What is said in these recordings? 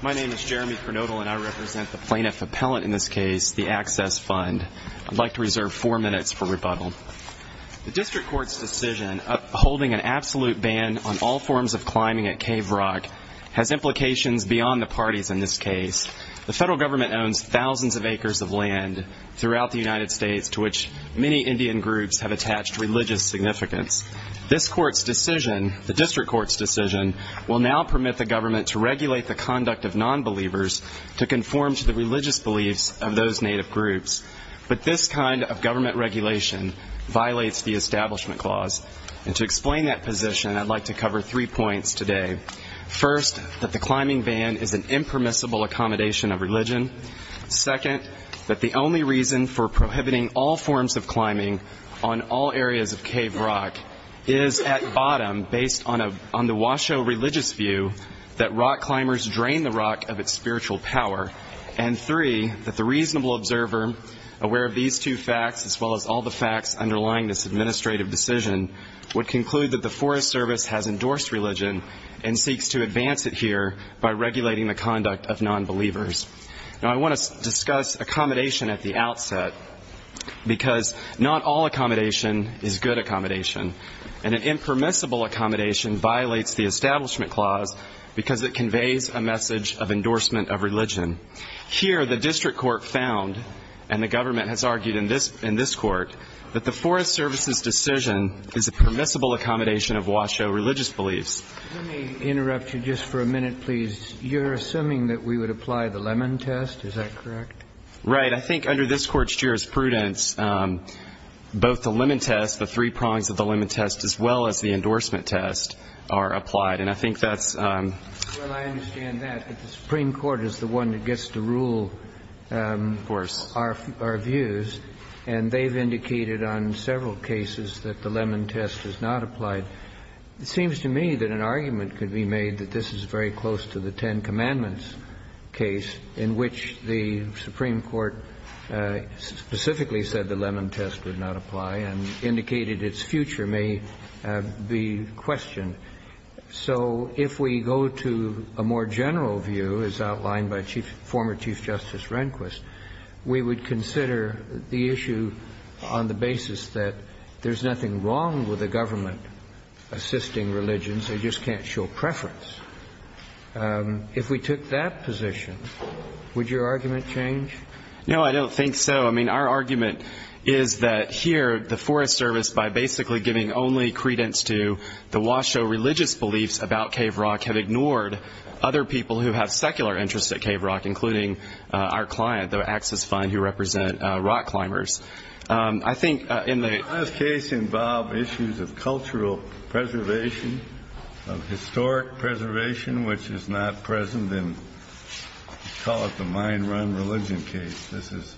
My name is Jeremy Pernodal and I represent the plaintiff appellant in this case, the Access Fund. I'd like to reserve four minutes for rebuttal. The District Court's decision upholding an absolute ban on all forms of climbing at Cave Rock has implications beyond the parties in this case. The federal government owns thousands of acres of land throughout the United States to which many Indian groups have attached religious significance. This Court's decision, the District Court's decision, will now permit the government to regulate the conduct of non-believers to conform to the religious beliefs of those native groups. But this kind of government regulation violates the Establishment Clause. And to explain that position, I'd like to cover three points today. First, that the climbing ban is an impermissible accommodation of religion. Second, that the only reason for prohibiting all forms of climbing on all areas of Cave Rock is, at bottom, based on the Washoe religious view, that rock climbers drain the rock of its spiritual power. And three, that the reasonable observer, aware of these two facts as well as all the facts underlying this administrative decision, would conclude that the Forest Service has endorsed religion and seeks to advance it here by regulating the conduct of non-believers. Now, I want to discuss accommodation at the outset, because not all accommodation is good accommodation. And an impermissible accommodation violates the Establishment Clause because it conveys a message of endorsement of religion. Here, the District Court found, and the government has argued in this Court, that the Forest Service's decision is a permissible accommodation of Washoe religious beliefs. Let me interrupt you just for a minute, please. You're assuming that we would apply the Lemon test, is that correct? Right. I think under this Court's jurisprudence, both the Lemon test, the three prongs of the Lemon test, as well as the endorsement test, are applied. And I think that's… Well, I understand that, but the Supreme Court is the one that gets to rule our views, and they've indicated on several cases that the Lemon test is not applied. It seems to me that an argument could be made that this is very close to the Ten Commandments case, in which the Supreme Court specifically said the Lemon test would not apply, and indicated its future may be questioned. So if we go to a more general view, as outlined by former Chief Justice Rehnquist, we would consider the issue on the basis that there's nothing wrong with the government assisting religions, they just can't show preference. If we took that position, would your argument change? No, I don't think so. I mean, our argument is that here the Forest Service, by basically giving only credence to the Washoe religious beliefs about Cave Rock, have ignored other people who have secular interests at Cave Rock, including our client, the Access Fund, who represent rock climbers. I think in the… Does this involve issues of cultural preservation, of historic preservation, which is not present in, call it the mind-run religion case? This is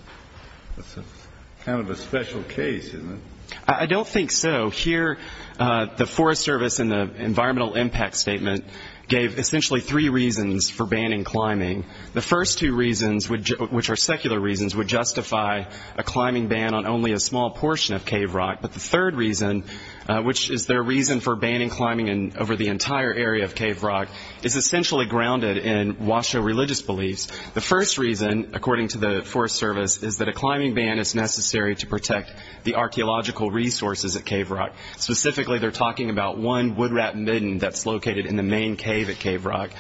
kind of a special case, isn't it? I don't think so. Here, the Forest Service in the environmental impact statement gave essentially three reasons for banning climbing. The first two reasons, which are secular reasons, would justify a climbing ban on only a small portion of Cave Rock. But the third reason, which is their reason for banning climbing over the entire area of Cave Rock, is essentially grounded in Washoe religious beliefs. The first reason, according to the Forest Service, is that a climbing ban is necessary to protect the archaeological resources at Cave Rock. Specifically, they're talking about one wood-wrapped midden that's located in the main cave at Cave Rock.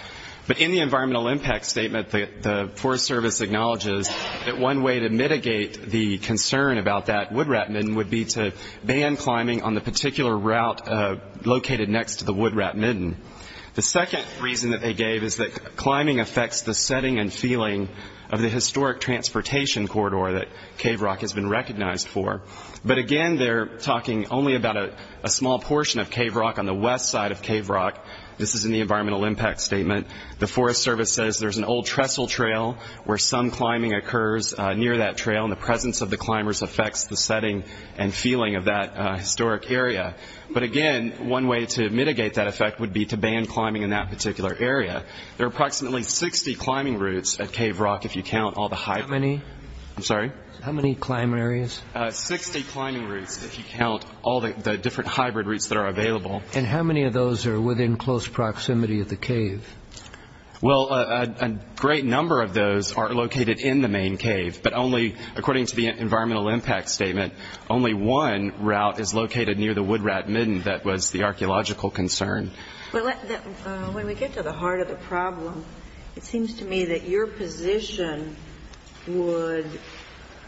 But in the environmental impact statement, the Forest Service acknowledges that one way to mitigate the concern about that wood-wrapped midden would be to ban climbing on the particular route located next to the wood-wrapped midden. The second reason that they gave is that climbing affects the setting and feeling of the historic transportation corridor that Cave Rock has been recognized for. But again, they're talking only about a small portion of Cave Rock on the west side of Cave Rock. This is in the environmental impact statement. The Forest Service says there's an old trestle trail where some climbing occurs near that trail, and the presence of the climbers affects the setting and feeling of that historic area. But again, one way to mitigate that effect would be to ban climbing in that particular area. There are approximately 60 climbing routes at Cave Rock, if you count all the hybrid... How many? I'm sorry? How many climbing areas? 60 climbing routes, if you count all the different hybrid routes that are available. And how many of those are within close proximity of the cave? Well, a great number of those are located in the main cave. But only, according to the environmental impact statement, only one route is located near the wood-wrapped midden. That was the archaeological concern. When we get to the heart of the problem, it seems to me that your position would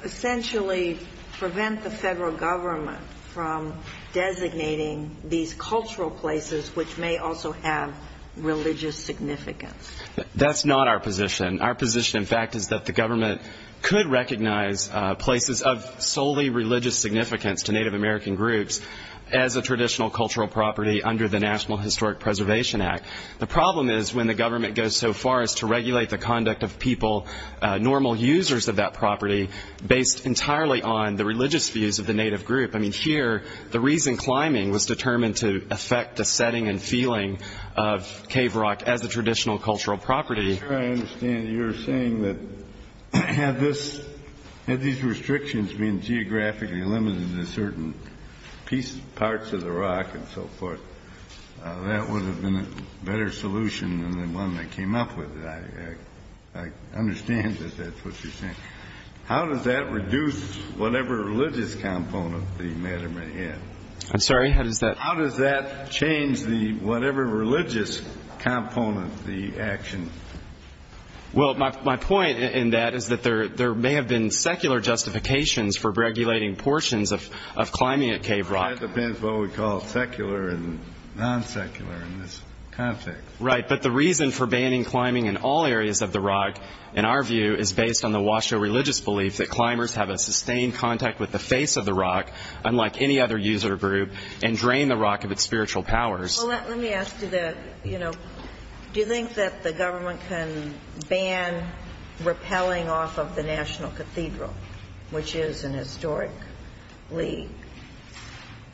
essentially prevent the federal government from designating these cultural places, which may also have religious significance. That's not our position. Our position, in fact, is that the government could recognize places of solely religious significance to Native American groups as a traditional cultural property under the National Historic Preservation Act. The problem is, when the government goes so far as to regulate the conduct of people, normal users of that property, based entirely on the religious views of the Native group. I mean, here, the reason climbing was determined to affect the setting and feeling of cave rock as a traditional cultural property. I'm sure I understand that you're saying that, had these restrictions been geographically limited to certain parts of the rock and so forth, that would have been a better solution than the one that came up with it. I understand that that's what you're saying. How does that reduce whatever religious component the matter may have? I'm sorry? How does that? How does that change the whatever religious component, the action? Well, my point in that is that there may have been secular justifications for regulating portions of climbing at cave rock. That depends what we call secular and non-secular in this context. Right. But the reason for banning climbing in all areas of the rock, in our view, is based on the Washoe religious belief that climbers have a sustained contact with the rock of its spiritual powers. Well, let me ask you that. You know, do you think that the government can ban repelling off of the National Cathedral, which is an historically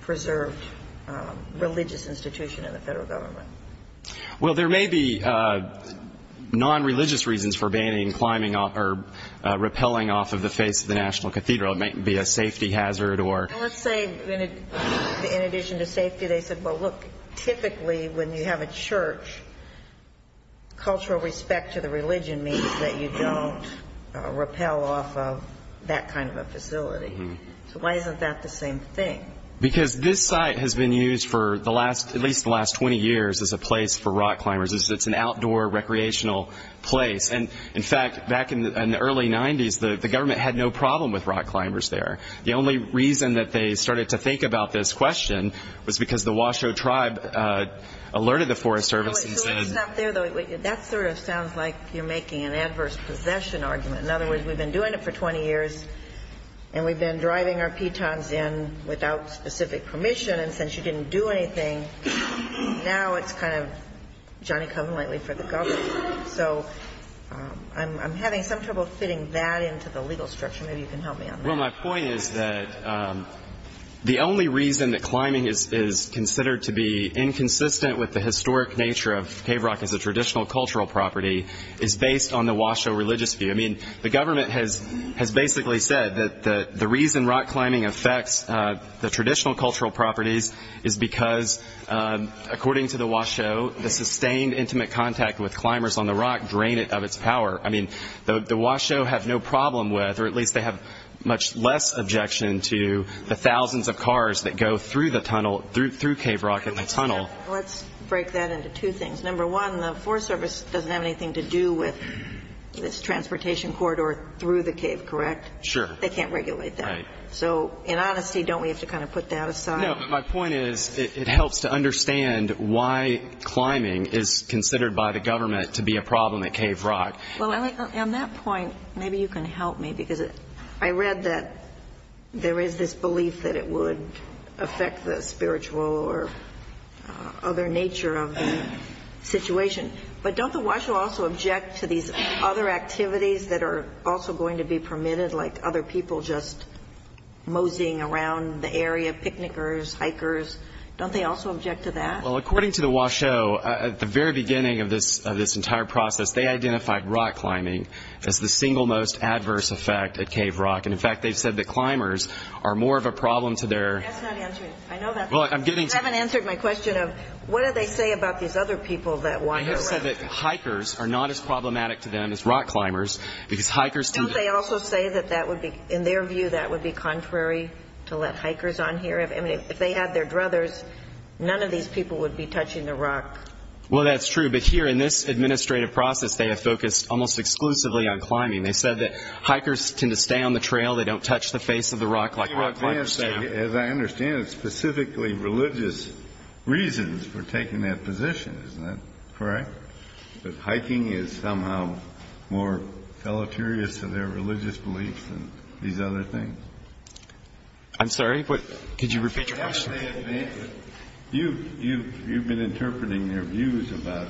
preserved religious institution in the Federal Government? Well, there may be non-religious reasons for banning climbing or repelling off of the face of the National Cathedral. It might be a safety hazard or Let's say in addition to safety, they said, well, look, typically when you have a church, cultural respect to the religion means that you don't repel off of that kind of a facility. So why isn't that the same thing? Because this site has been used for the last, at least the last 20 years, as a place for rock climbers. It's an outdoor recreational place. And, in fact, back in the early 90s, the government had no problem with rock climbers there. The only reason that they started to think about this question was because the Washoe tribe alerted the Forest Service and said Wait, so it's not there, though. That sort of sounds like you're making an adverse possession argument. In other words, we've been doing it for 20 years, and we've been driving our pitons in without specific permission. And since you didn't do anything, now it's kind of Johnny Cullen, likely, for the government. So I'm having some trouble fitting that into the legal structure. Maybe you can help me on that. Well, my point is that the only reason that climbing is considered to be inconsistent with the historic nature of cave rock as a traditional cultural property is based on the Washoe religious view. I mean, the government has basically said that the reason rock climbing affects the traditional cultural properties is because, according to the Washoe, the sustained intimate contact with climbers on the rock drain it of its power. I mean, the Washoe have no problem with, or at least they have much less objection to, the thousands of cars that go through the tunnel, through cave rock in the tunnel. Let's break that into two things. Number one, the Forest Service doesn't have anything to do with this transportation corridor through the cave, correct? Sure. They can't regulate that. So in honesty, don't we have to kind of put that aside? My point is it helps to understand why climbing is considered by the government to be a problem at cave rock. Well, on that point, maybe you can help me, because I read that there is this belief that it would affect the spiritual or other nature of the situation. But don't the Washoe also object to these other activities that are also going to be permitted, like other people just moseying around the area, picnickers, hikers? Don't they also object to that? Well, according to the Washoe, at the very beginning of this entire process, they identified rock climbing as the single most adverse effect at cave rock. And in fact, they've said that climbers are more of a problem to their... That's not answering. I know that. Well, I'm getting to... I haven't answered my question of what do they say about these other people that walk around. I have said that hikers are not as problematic to them as rock climbers, because hikers... Don't they also say that that would be, in their view, that would be contrary to let hikers on here? I mean, if they had their druthers, none of these people would be touching the rock. Well, that's true. But here, in this administrative process, they have focused almost exclusively on climbing. They said that hikers tend to stay on the trail. They don't touch the face of the rock like rock climbers do. As I understand it, it's specifically religious reasons for taking that position. Isn't that correct? That hiking is somehow more deleterious to their religious beliefs than these other things. I'm sorry, but could you repeat your question? You've been interpreting their views about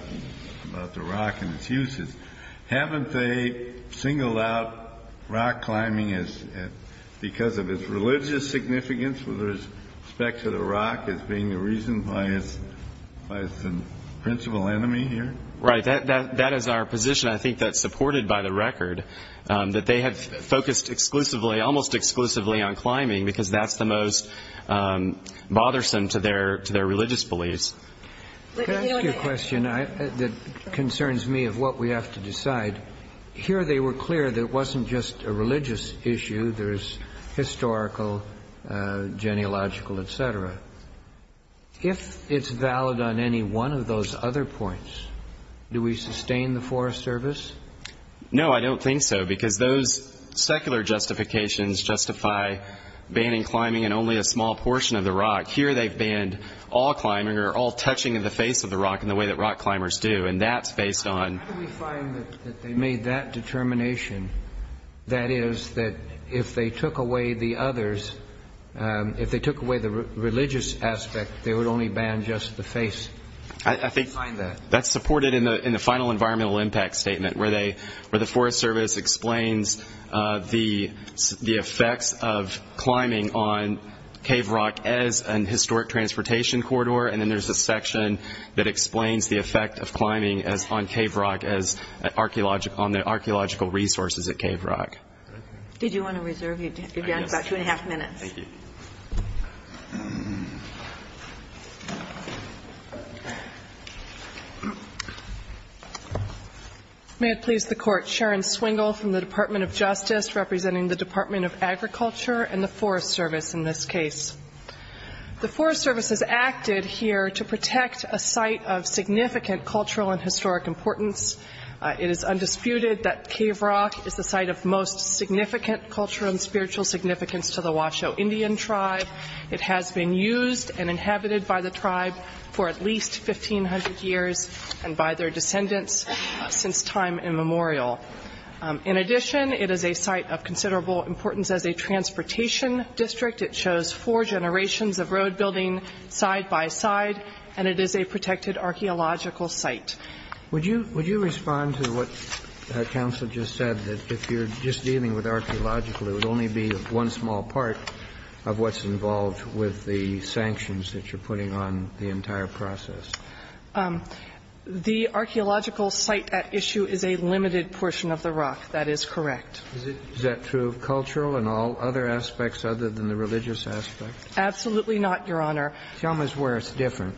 the rock and its uses. Haven't they singled out rock climbing because of its religious significance with respect to the rock as being a reason by its principal enemy here? Right. That is our position. I think that's supported by the record, that they have focused exclusively, almost exclusively, on climbing because that's the most bothersome to their religious beliefs. Could I ask you a question that concerns me of what we have to decide? Here they were clear that it wasn't just a religious issue. There's historical, genealogical, et cetera. If it's valid on any one of those other points, do we sustain the Forest Service? No, I don't think so, because those secular justifications justify banning climbing in only a small portion of the rock. Here they've banned all climbing or all touching of the face of the rock in the way that rock climbers do, and that's based on... How do we find that they made that determination? That is, that if they took away the others, if they took away the religious aspect, they would only ban just the face. How do we find that? That's supported in the final environmental impact statement where the Forest Service explains the effects of climbing on cave rock as an historic transportation corridor, and then there's a section that explains the effect of climbing on cave rock as on the archaeological resources at cave rock. Did you want to reserve your time? You've got about two and a half minutes. May it please the Court. Sharon Swingle from the Department of Justice representing the Department of Agriculture and the Forest Service in this case. The Forest Service has acted here to protect a site of significant cultural and historic importance. It is undisputed that cave rock is the site of most significant cultural and spiritual significance to the Washoe Indian tribe. It has been used and inhabited by the tribe for at least 1,500 years and by their descendants since time immemorial. In addition, it is a site of considerable importance as a transportation district. It shows four generations of road building side-by-side, and it is a protected archaeological site. Would you respond to what counsel just said, that if you're just dealing with archaeological, it would only be one small part of what's involved with the sanctions that you're putting on the entire process? The archaeological site at issue is a limited portion of the rock. That is correct. Is that true of cultural and all other aspects other than the religious aspect? Absolutely not, Your Honor. Tell me where it's different.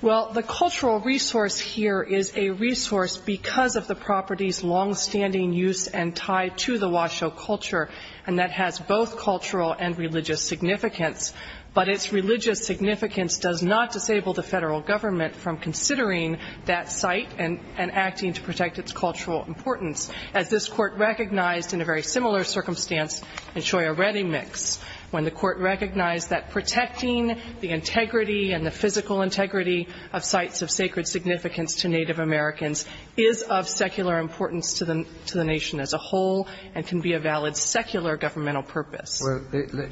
Well, the cultural resource here is a resource because of the property's longstanding use and tie to the Washoe culture, and that has both cultural and religious significance. But its religious significance does not disable the Federal Government from considering that site and acting to protect its cultural importance, as this Court recognized in a very similar circumstance in Shoya Reddy Mix, when the Court recognized that protecting the integrity and the physical integrity of sites of sacred significance to Native Americans is of secular importance to the nation as a whole and can be a valid secular governmental purpose. Well,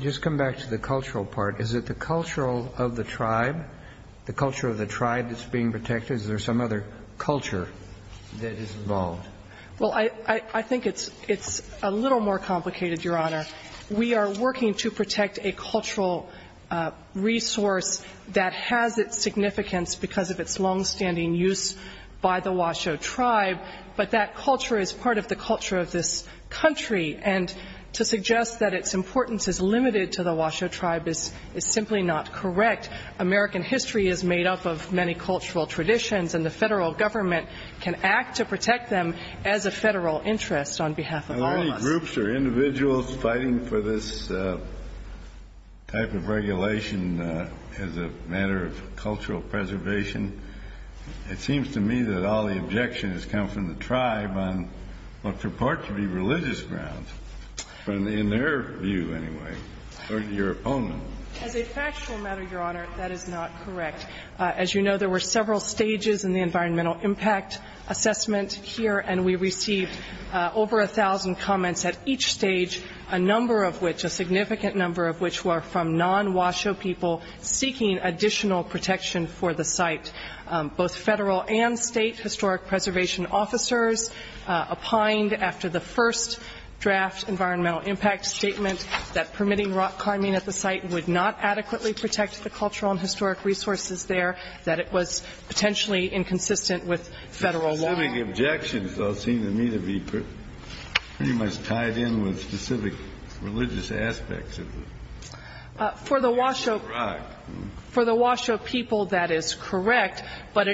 just come back to the cultural part. Is it the cultural of the tribe, the culture of the tribe that's being protected, or is there some other culture that is involved? Well, I think it's a little more complicated, Your Honor. We are working to protect a cultural resource that has its significance because of its longstanding use by the Washoe tribe, but that culture is part of the culture of this country. And to suggest that its importance is limited to the Washoe tribe is simply not correct. American history is made up of many as a Federal interest on behalf of all of us. Are there any groups or individuals fighting for this type of regulation as a matter of cultural preservation? It seems to me that all the objection has come from the tribe on what purport to be religious grounds, in their view, anyway, or your opponent. As a factual matter, Your Honor, that is not correct. As you know, there were several stages in the environmental impact assessment here, and we received over a thousand comments at each stage, a number of which, a significant number of which, were from non-Washoe people seeking additional protection for the site. Both Federal and State historic preservation officers opined after the first draft environmental impact statement that permitting rock climbing at the site would not adequately protect the cultural and historic resources there, that it was potentially inconsistent with Federal law. The objections, though, seem to me to be pretty much tied in with specific religious aspects of the rock. For the Washoe people, that is correct, but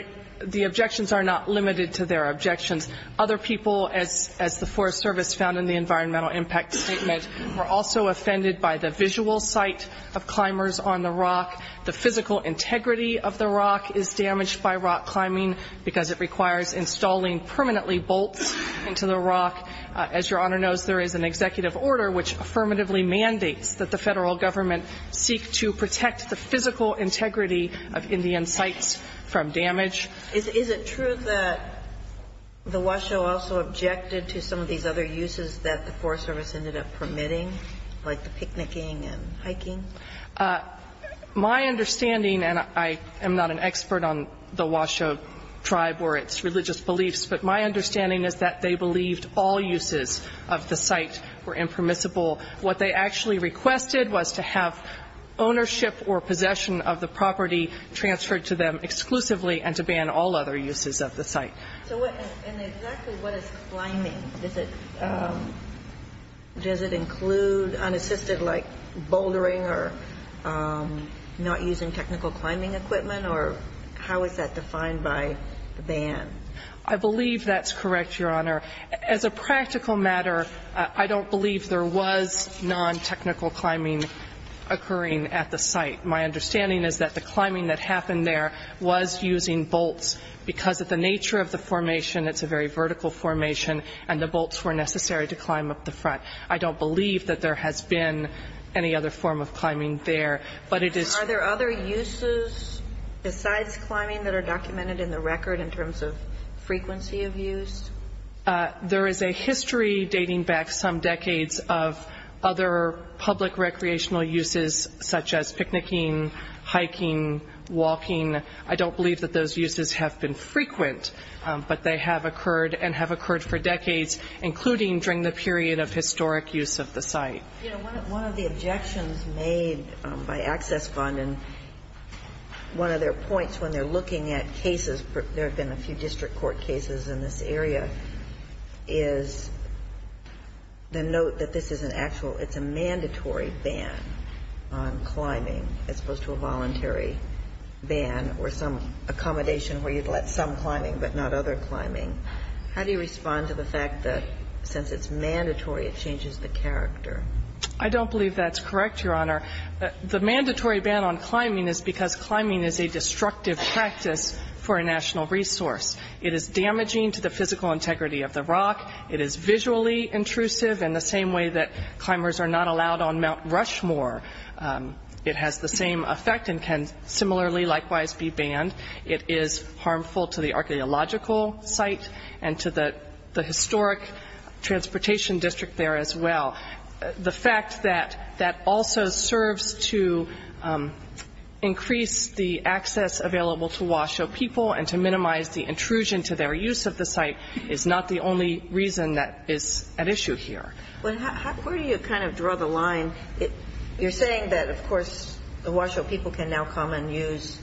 the objections are not limited to their objections. Other people, as the Forest Service found in the environmental impact statement, were also offended by the visual sight of climbers on the rock, the physical integrity of the site, and the fact that it is damaged by rock climbing because it requires installing permanently bolts into the rock. As Your Honor knows, there is an executive order which affirmatively mandates that the Federal Government seek to protect the physical integrity of Indian sites from damage. Is it true that the Washoe also objected to some of these other uses that the Forest Service ended up permitting, like the picnicking and hiking? My understanding, and I am not an expert on the Washoe tribe or its religious beliefs, but my understanding is that they believed all uses of the site were impermissible. What they actually requested was to have ownership or possession of the property transferred to them exclusively and to ban all other uses of the site. And exactly what is climbing? Does it include unassisted, like, bouldering or not using technical climbing equipment, or how is that defined by the ban? I believe that's correct, Your Honor. As a practical matter, I don't believe there was non-technical climbing occurring at the site. My understanding is that the climbing that happened there was using bolts, because of the nature of the formation. It's a very vertical formation, and the bolts were necessary to climb up the front. I don't believe that there has been any other form of climbing there. Are there other uses besides climbing that are documented in the record in terms of frequency of use? There is a history dating back some decades of other public recreational uses, such as walking. I don't believe that those uses have been frequent, but they have occurred and have occurred for decades, including during the period of historic use of the site. One of the objections made by Access Fund, and one of their points when they're looking at cases, there have been a few district court cases in this area, is the note that this is an actual, it's a mandatory ban on climbing, as opposed to a voluntary ban or some accommodation where you'd let some climbing but not other climbing. How do you respond to the fact that since it's mandatory, it changes the character? I don't believe that's correct, Your Honor. The mandatory ban on climbing is because climbing is a destructive practice for a national resource. It is damaging to the physical allowed on Mount Rushmore. It has the same effect and can similarly likewise be banned. It is harmful to the archeological site and to the historic transportation district there as well. The fact that that also serves to increase the access available to Washoe people and to minimize the intrusion to their use of the site is not the only reason that is at issue here. Well, where do you kind of draw the line? You're saying that, of course, the Washoe people can now come and use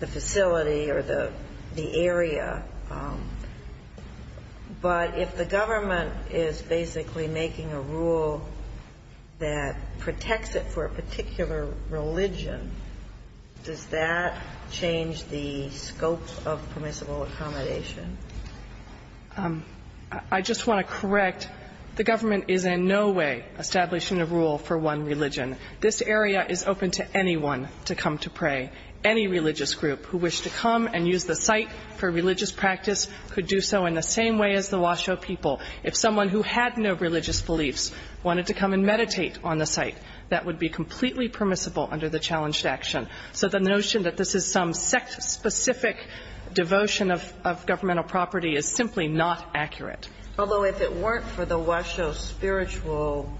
the facility or the area, but if the government is basically making a rule that protects it for a particular religion, does that change the scope of permissible accommodation? I just want to correct. The government is in no way establishing a rule for one religion. This area is open to anyone to come to pray. Any religious group who wish to come and use the site for religious practice could do so in the same way as the Washoe people. If someone who had no religious beliefs wanted to come and meditate on the site, that would be completely permissible under the challenged action. So the notion that this is some sect-specific devotion of governmental property is simply not accurate. Although if it weren't for the Washoe spiritual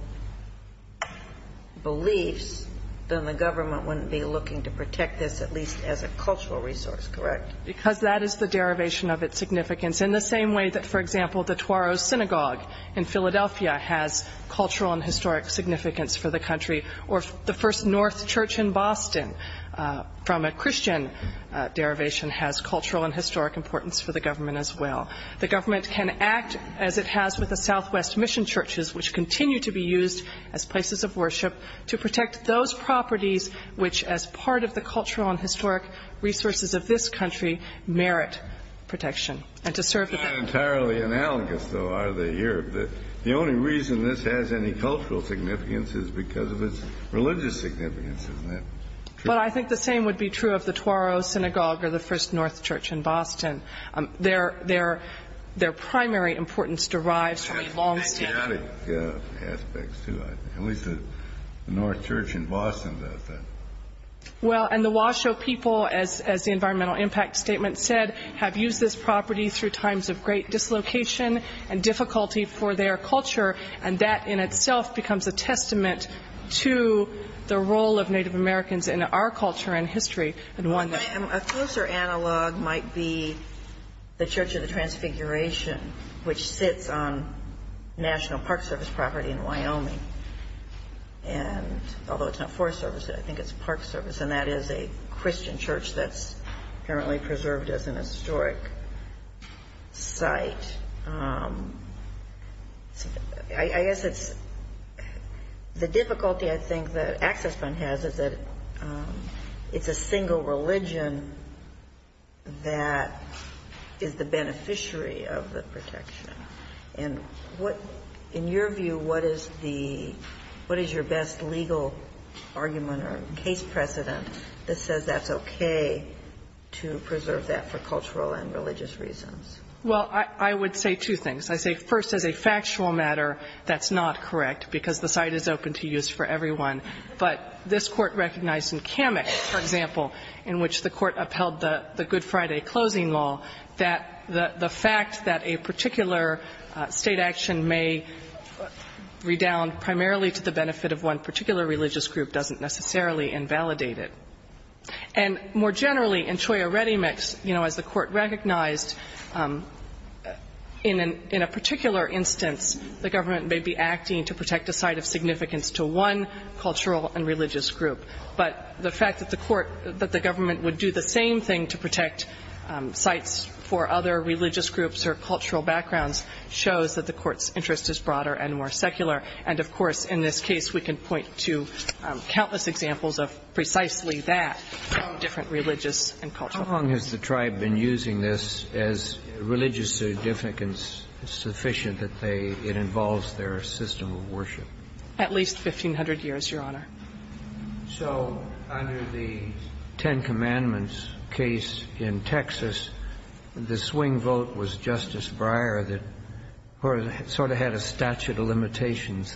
beliefs, then the government wouldn't be looking to protect this, at least as a cultural resource, correct? Because that is the derivation of its significance in the same way that, for example, the Tuaros Synagogue in Philadelphia has cultural and historic significance for the country, or the First North Church in Boston, from a Christian derivation, has cultural and historic importance for the government as well. The government can act as it has with the Southwest Mission churches, which continue to be used as places of worship to protect those properties which, as part of the cultural and historic resources of this country, merit protection, and to serve the country. It's not entirely analogous, though, are they here? The only reason this has any cultural significance is because of its religious significance, isn't that true? Well, I think the same would be true of the Tuaros Synagogue or the First North Church in Boston. Their primary importance derives from a longstanding... And chaotic aspects, too, I think. At least the North Church in Boston does that. Well, and the Washoe people, as the environmental impact statement said, have used this property through times of great dislocation and difficulty for their culture, and that in itself becomes a testament to the role of Native Americans in our culture and history. A closer analog might be the Church of the Transfiguration, which sits on National Park Service property in Wyoming, and although it's not Forest Service, I think it's Park Service, and that is a Christian church that's apparently preserved as an historic site. I guess it's the difficulty, I think, that Access Fund has is that it's a single religion that is the beneficiary of the protection. And what, in your view, what is the, what is the case precedent that says that's okay to preserve that for cultural and religious reasons? Well, I would say two things. I say first, as a factual matter, that's not correct because the site is open to use for everyone. But this Court recognized in Kamek, for example, in which the Court upheld the Good Friday closing law, that the fact that a particular State action may redound primarily to the benefit of one particular religious group doesn't necessarily invalidate it. And more generally, in Cholla Redemix, you know, as the Court recognized, in a particular instance, the government may be acting to protect a site of significance to one cultural and religious group. But the fact that the Court, that the government would do the same thing to protect sites for other religious groups or cultural backgrounds shows that the Court's interest is broader and more secular. And, of course, in this case, we can point to countless examples of precisely that, different religious and cultural backgrounds. How long has the Tribe been using this as religious significance sufficient that they, it involves their system of worship? At least 1,500 years, Your Honor. So under the Ten Commandments case in Texas, the swing vote was Justice Breyer that sort of had a statute of limitations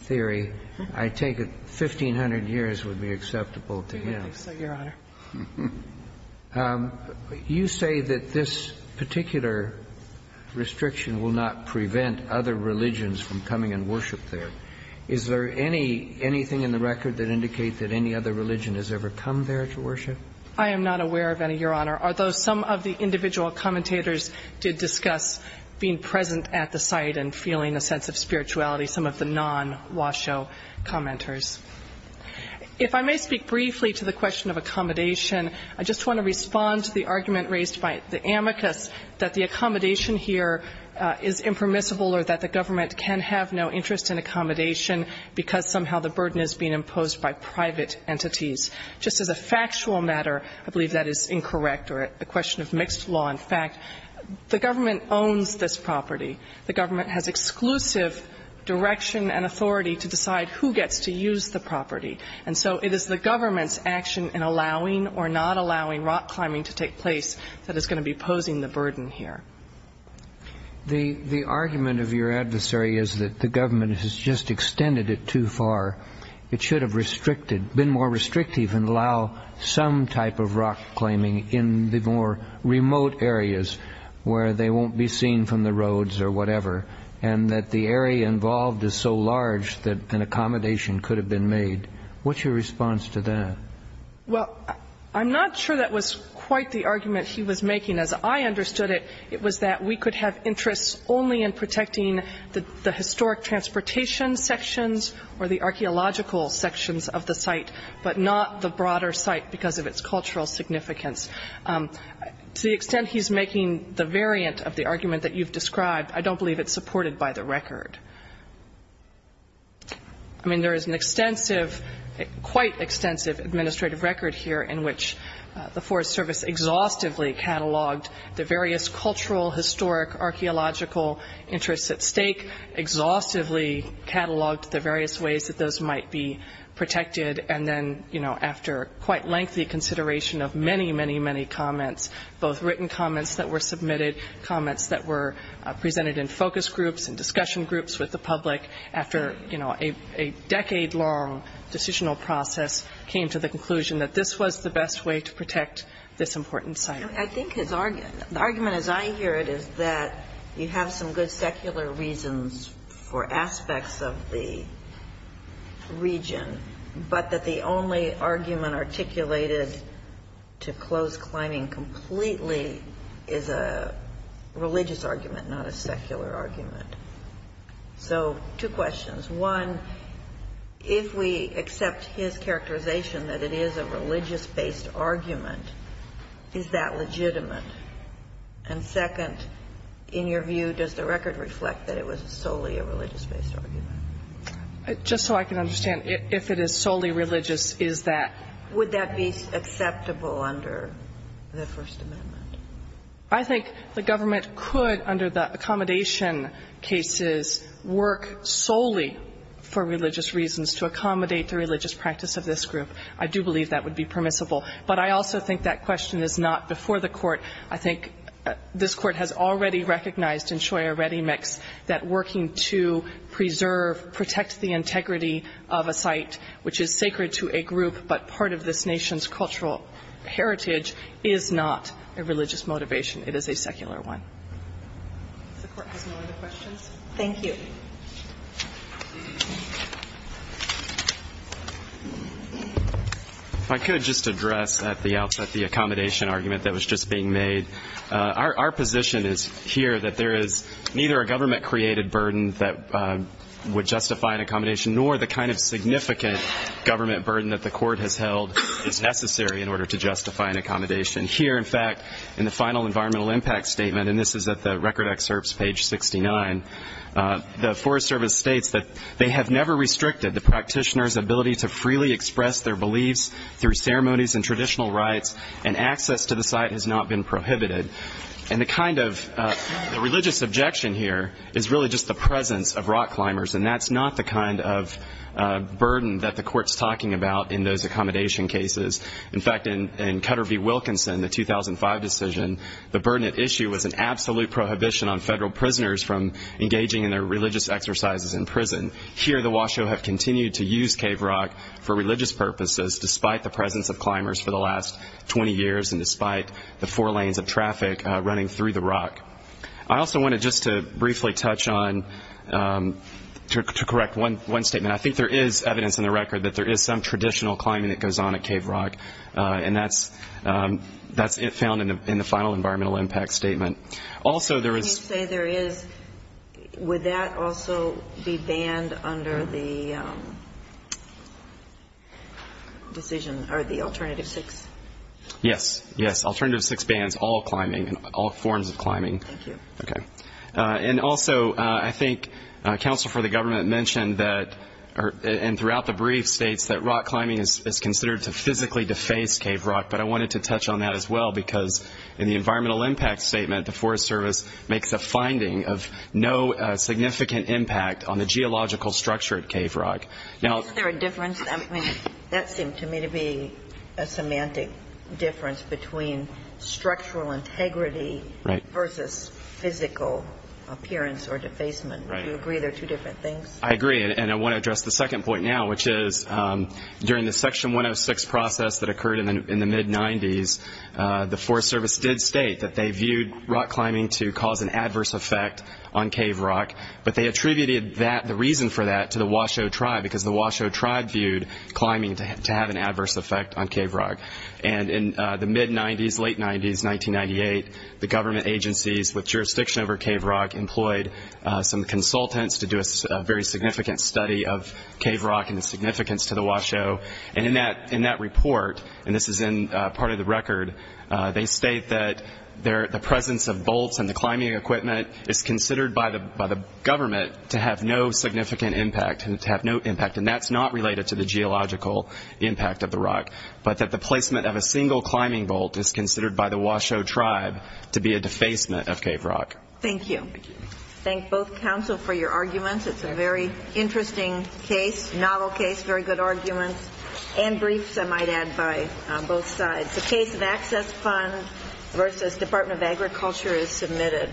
theory. I take it 1,500 years would be acceptable to him. I think so, Your Honor. You say that this particular restriction will not prevent other religions from coming and worship there. Is there anything in the record that indicates that any other religion has ever come there to worship? I am not aware of any, Your Honor, although some of the individual commentators did discuss being present at the site and feeling a sense of spirituality, some of the non-Washoe commenters. If I may speak briefly to the question of accommodation, I just want to respond to the argument raised by the amicus that the accommodation here is impermissible or that the government can have no interest in accommodation because somehow the burden is being imposed by private entities. Just as a factual matter, I believe that is incorrect, or a question of mixed law. In fact, the government owns this property. The government has exclusive direction and authority to decide who gets to use the property. And so it is the government's action in allowing or not allowing rock climbing to take place that is going to be posing the burden here. The argument of your adversary is that the government has just extended it too far. It should have been more restrictive and allow some type of rock climbing in the more remote areas where they won't be seen from the roads or whatever, and that the area involved is so large that an accommodation could have been made. What's your response to that? Well, I'm not sure that was quite the argument he was making. As I understood it, it was that we could have interests only in protecting the archaeological sections of the site, but not the broader site because of its cultural significance. To the extent he's making the variant of the argument that you've described, I don't believe it's supported by the record. I mean, there is an extensive, quite extensive administrative record here in which the Forest Service exhaustively cataloged the various cultural, historic, archaeological interests at stake, exhaustively cataloged the various ways that those might be protected, and then after quite lengthy consideration of many, many, many comments, both written comments that were submitted, comments that were presented in focus groups and discussion groups with the public, after a decade-long decisional process, came to the conclusion that this was the best way to protect this important site. I think his argument, the argument as I hear it, is that you have some good secular reasons for aspects of the region, but that the only argument articulated to close climbing completely is a religious argument, not a secular argument. So two questions. One, if we accept his characterization that it is a religious-based argument, is that legitimate? And second, in your view, does the record reflect that it was solely a religious-based argument? Just so I can understand, if it is solely religious, is that? Would that be acceptable under the First Amendment? I think the government could, under the accommodation cases, work solely for religious reasons to accommodate the religious practice of this group. I do believe that would be permissible. But I also think that question is not before the Court. I think this Court has already recognized in Shoya Redemix that working to preserve, protect the integrity of a site which is sacred to a group, but part of this nation's cultural heritage, is not a religious motivation. It is a secular one. If the Court has no other questions. Thank you. Thank you. If I could just address at the outset the accommodation argument that was just being made. Our position is here that there is neither a government-created burden that would justify an accommodation nor the kind of significant government burden that the Court has held is necessary in order to justify an accommodation. Here, in fact, in the final environmental impact statement, and this is at the record excerpts, page 69, the Forest Service states that they have never restricted the practitioner's ability to freely express their beliefs through ceremonies and traditional rites, and access to the site has not been prohibited. And the kind of religious objection here is really just the presence of rock climbers, and that's not the kind of burden that the Court's talking about in those accommodation cases. In fact, in Cutter v. Wilkinson, the 2005 decision, the burden at issue was an absolute prohibition on federal prisoners from engaging in their religious exercises in prison. Here, the Washoe have continued to use Cave Rock for religious purposes, despite the presence of climbers for the last 20 years, and despite the four lanes of traffic running through the rock. I also wanted just to briefly touch on, to correct one statement. And I think there is evidence in the record that there is some traditional climbing that goes on at Cave Rock, and that's found in the final environmental impact statement. Also, there is- Can you say there is, would that also be banned under the alternative six? Yes. Yes, alternative six bans, all climbing, all forms of climbing. Thank you. Okay. And also, I think counsel for the government mentioned that, and throughout the brief, states that rock climbing is considered to physically deface Cave Rock. But I wanted to touch on that as well, because in the environmental impact statement, the Forest Service makes a finding of no significant impact on the geological structure at Cave Rock. Now- Is there a difference? That seemed to me to be a semantic difference between structural integrity- Right. Versus physical appearance or defacement. Right. Do you agree they're two different things? I agree, and I want to address the second point now, which is during the Section 106 process that occurred in the mid-'90s, the Forest Service did state that they viewed rock climbing to cause an adverse effect on Cave Rock. But they attributed that, the reason for that, to the Washoe Tribe, because the Washoe Tribe viewed climbing to have an adverse effect on Cave Rock. And in the mid-'90s, late-'90s, 1998, the government agencies with jurisdiction over Cave Rock employed some consultants to do a very significant study of Cave Rock and its significance to the Washoe. And in that report, and this is in part of the record, they state that the presence of bolts in the climbing equipment is considered by the government to have no significant impact, and to have no impact, and that's not related to the geological impact of the rock, but that the placement of a single climbing bolt is considered by the Washoe Tribe to be a defacement of Cave Rock. Thank you. Thank you. Thank both counsel for your arguments. It's a very interesting case, novel case, very good arguments, and briefs, I might add, by both sides. The case of Access Fund versus Department of Agriculture is submitted.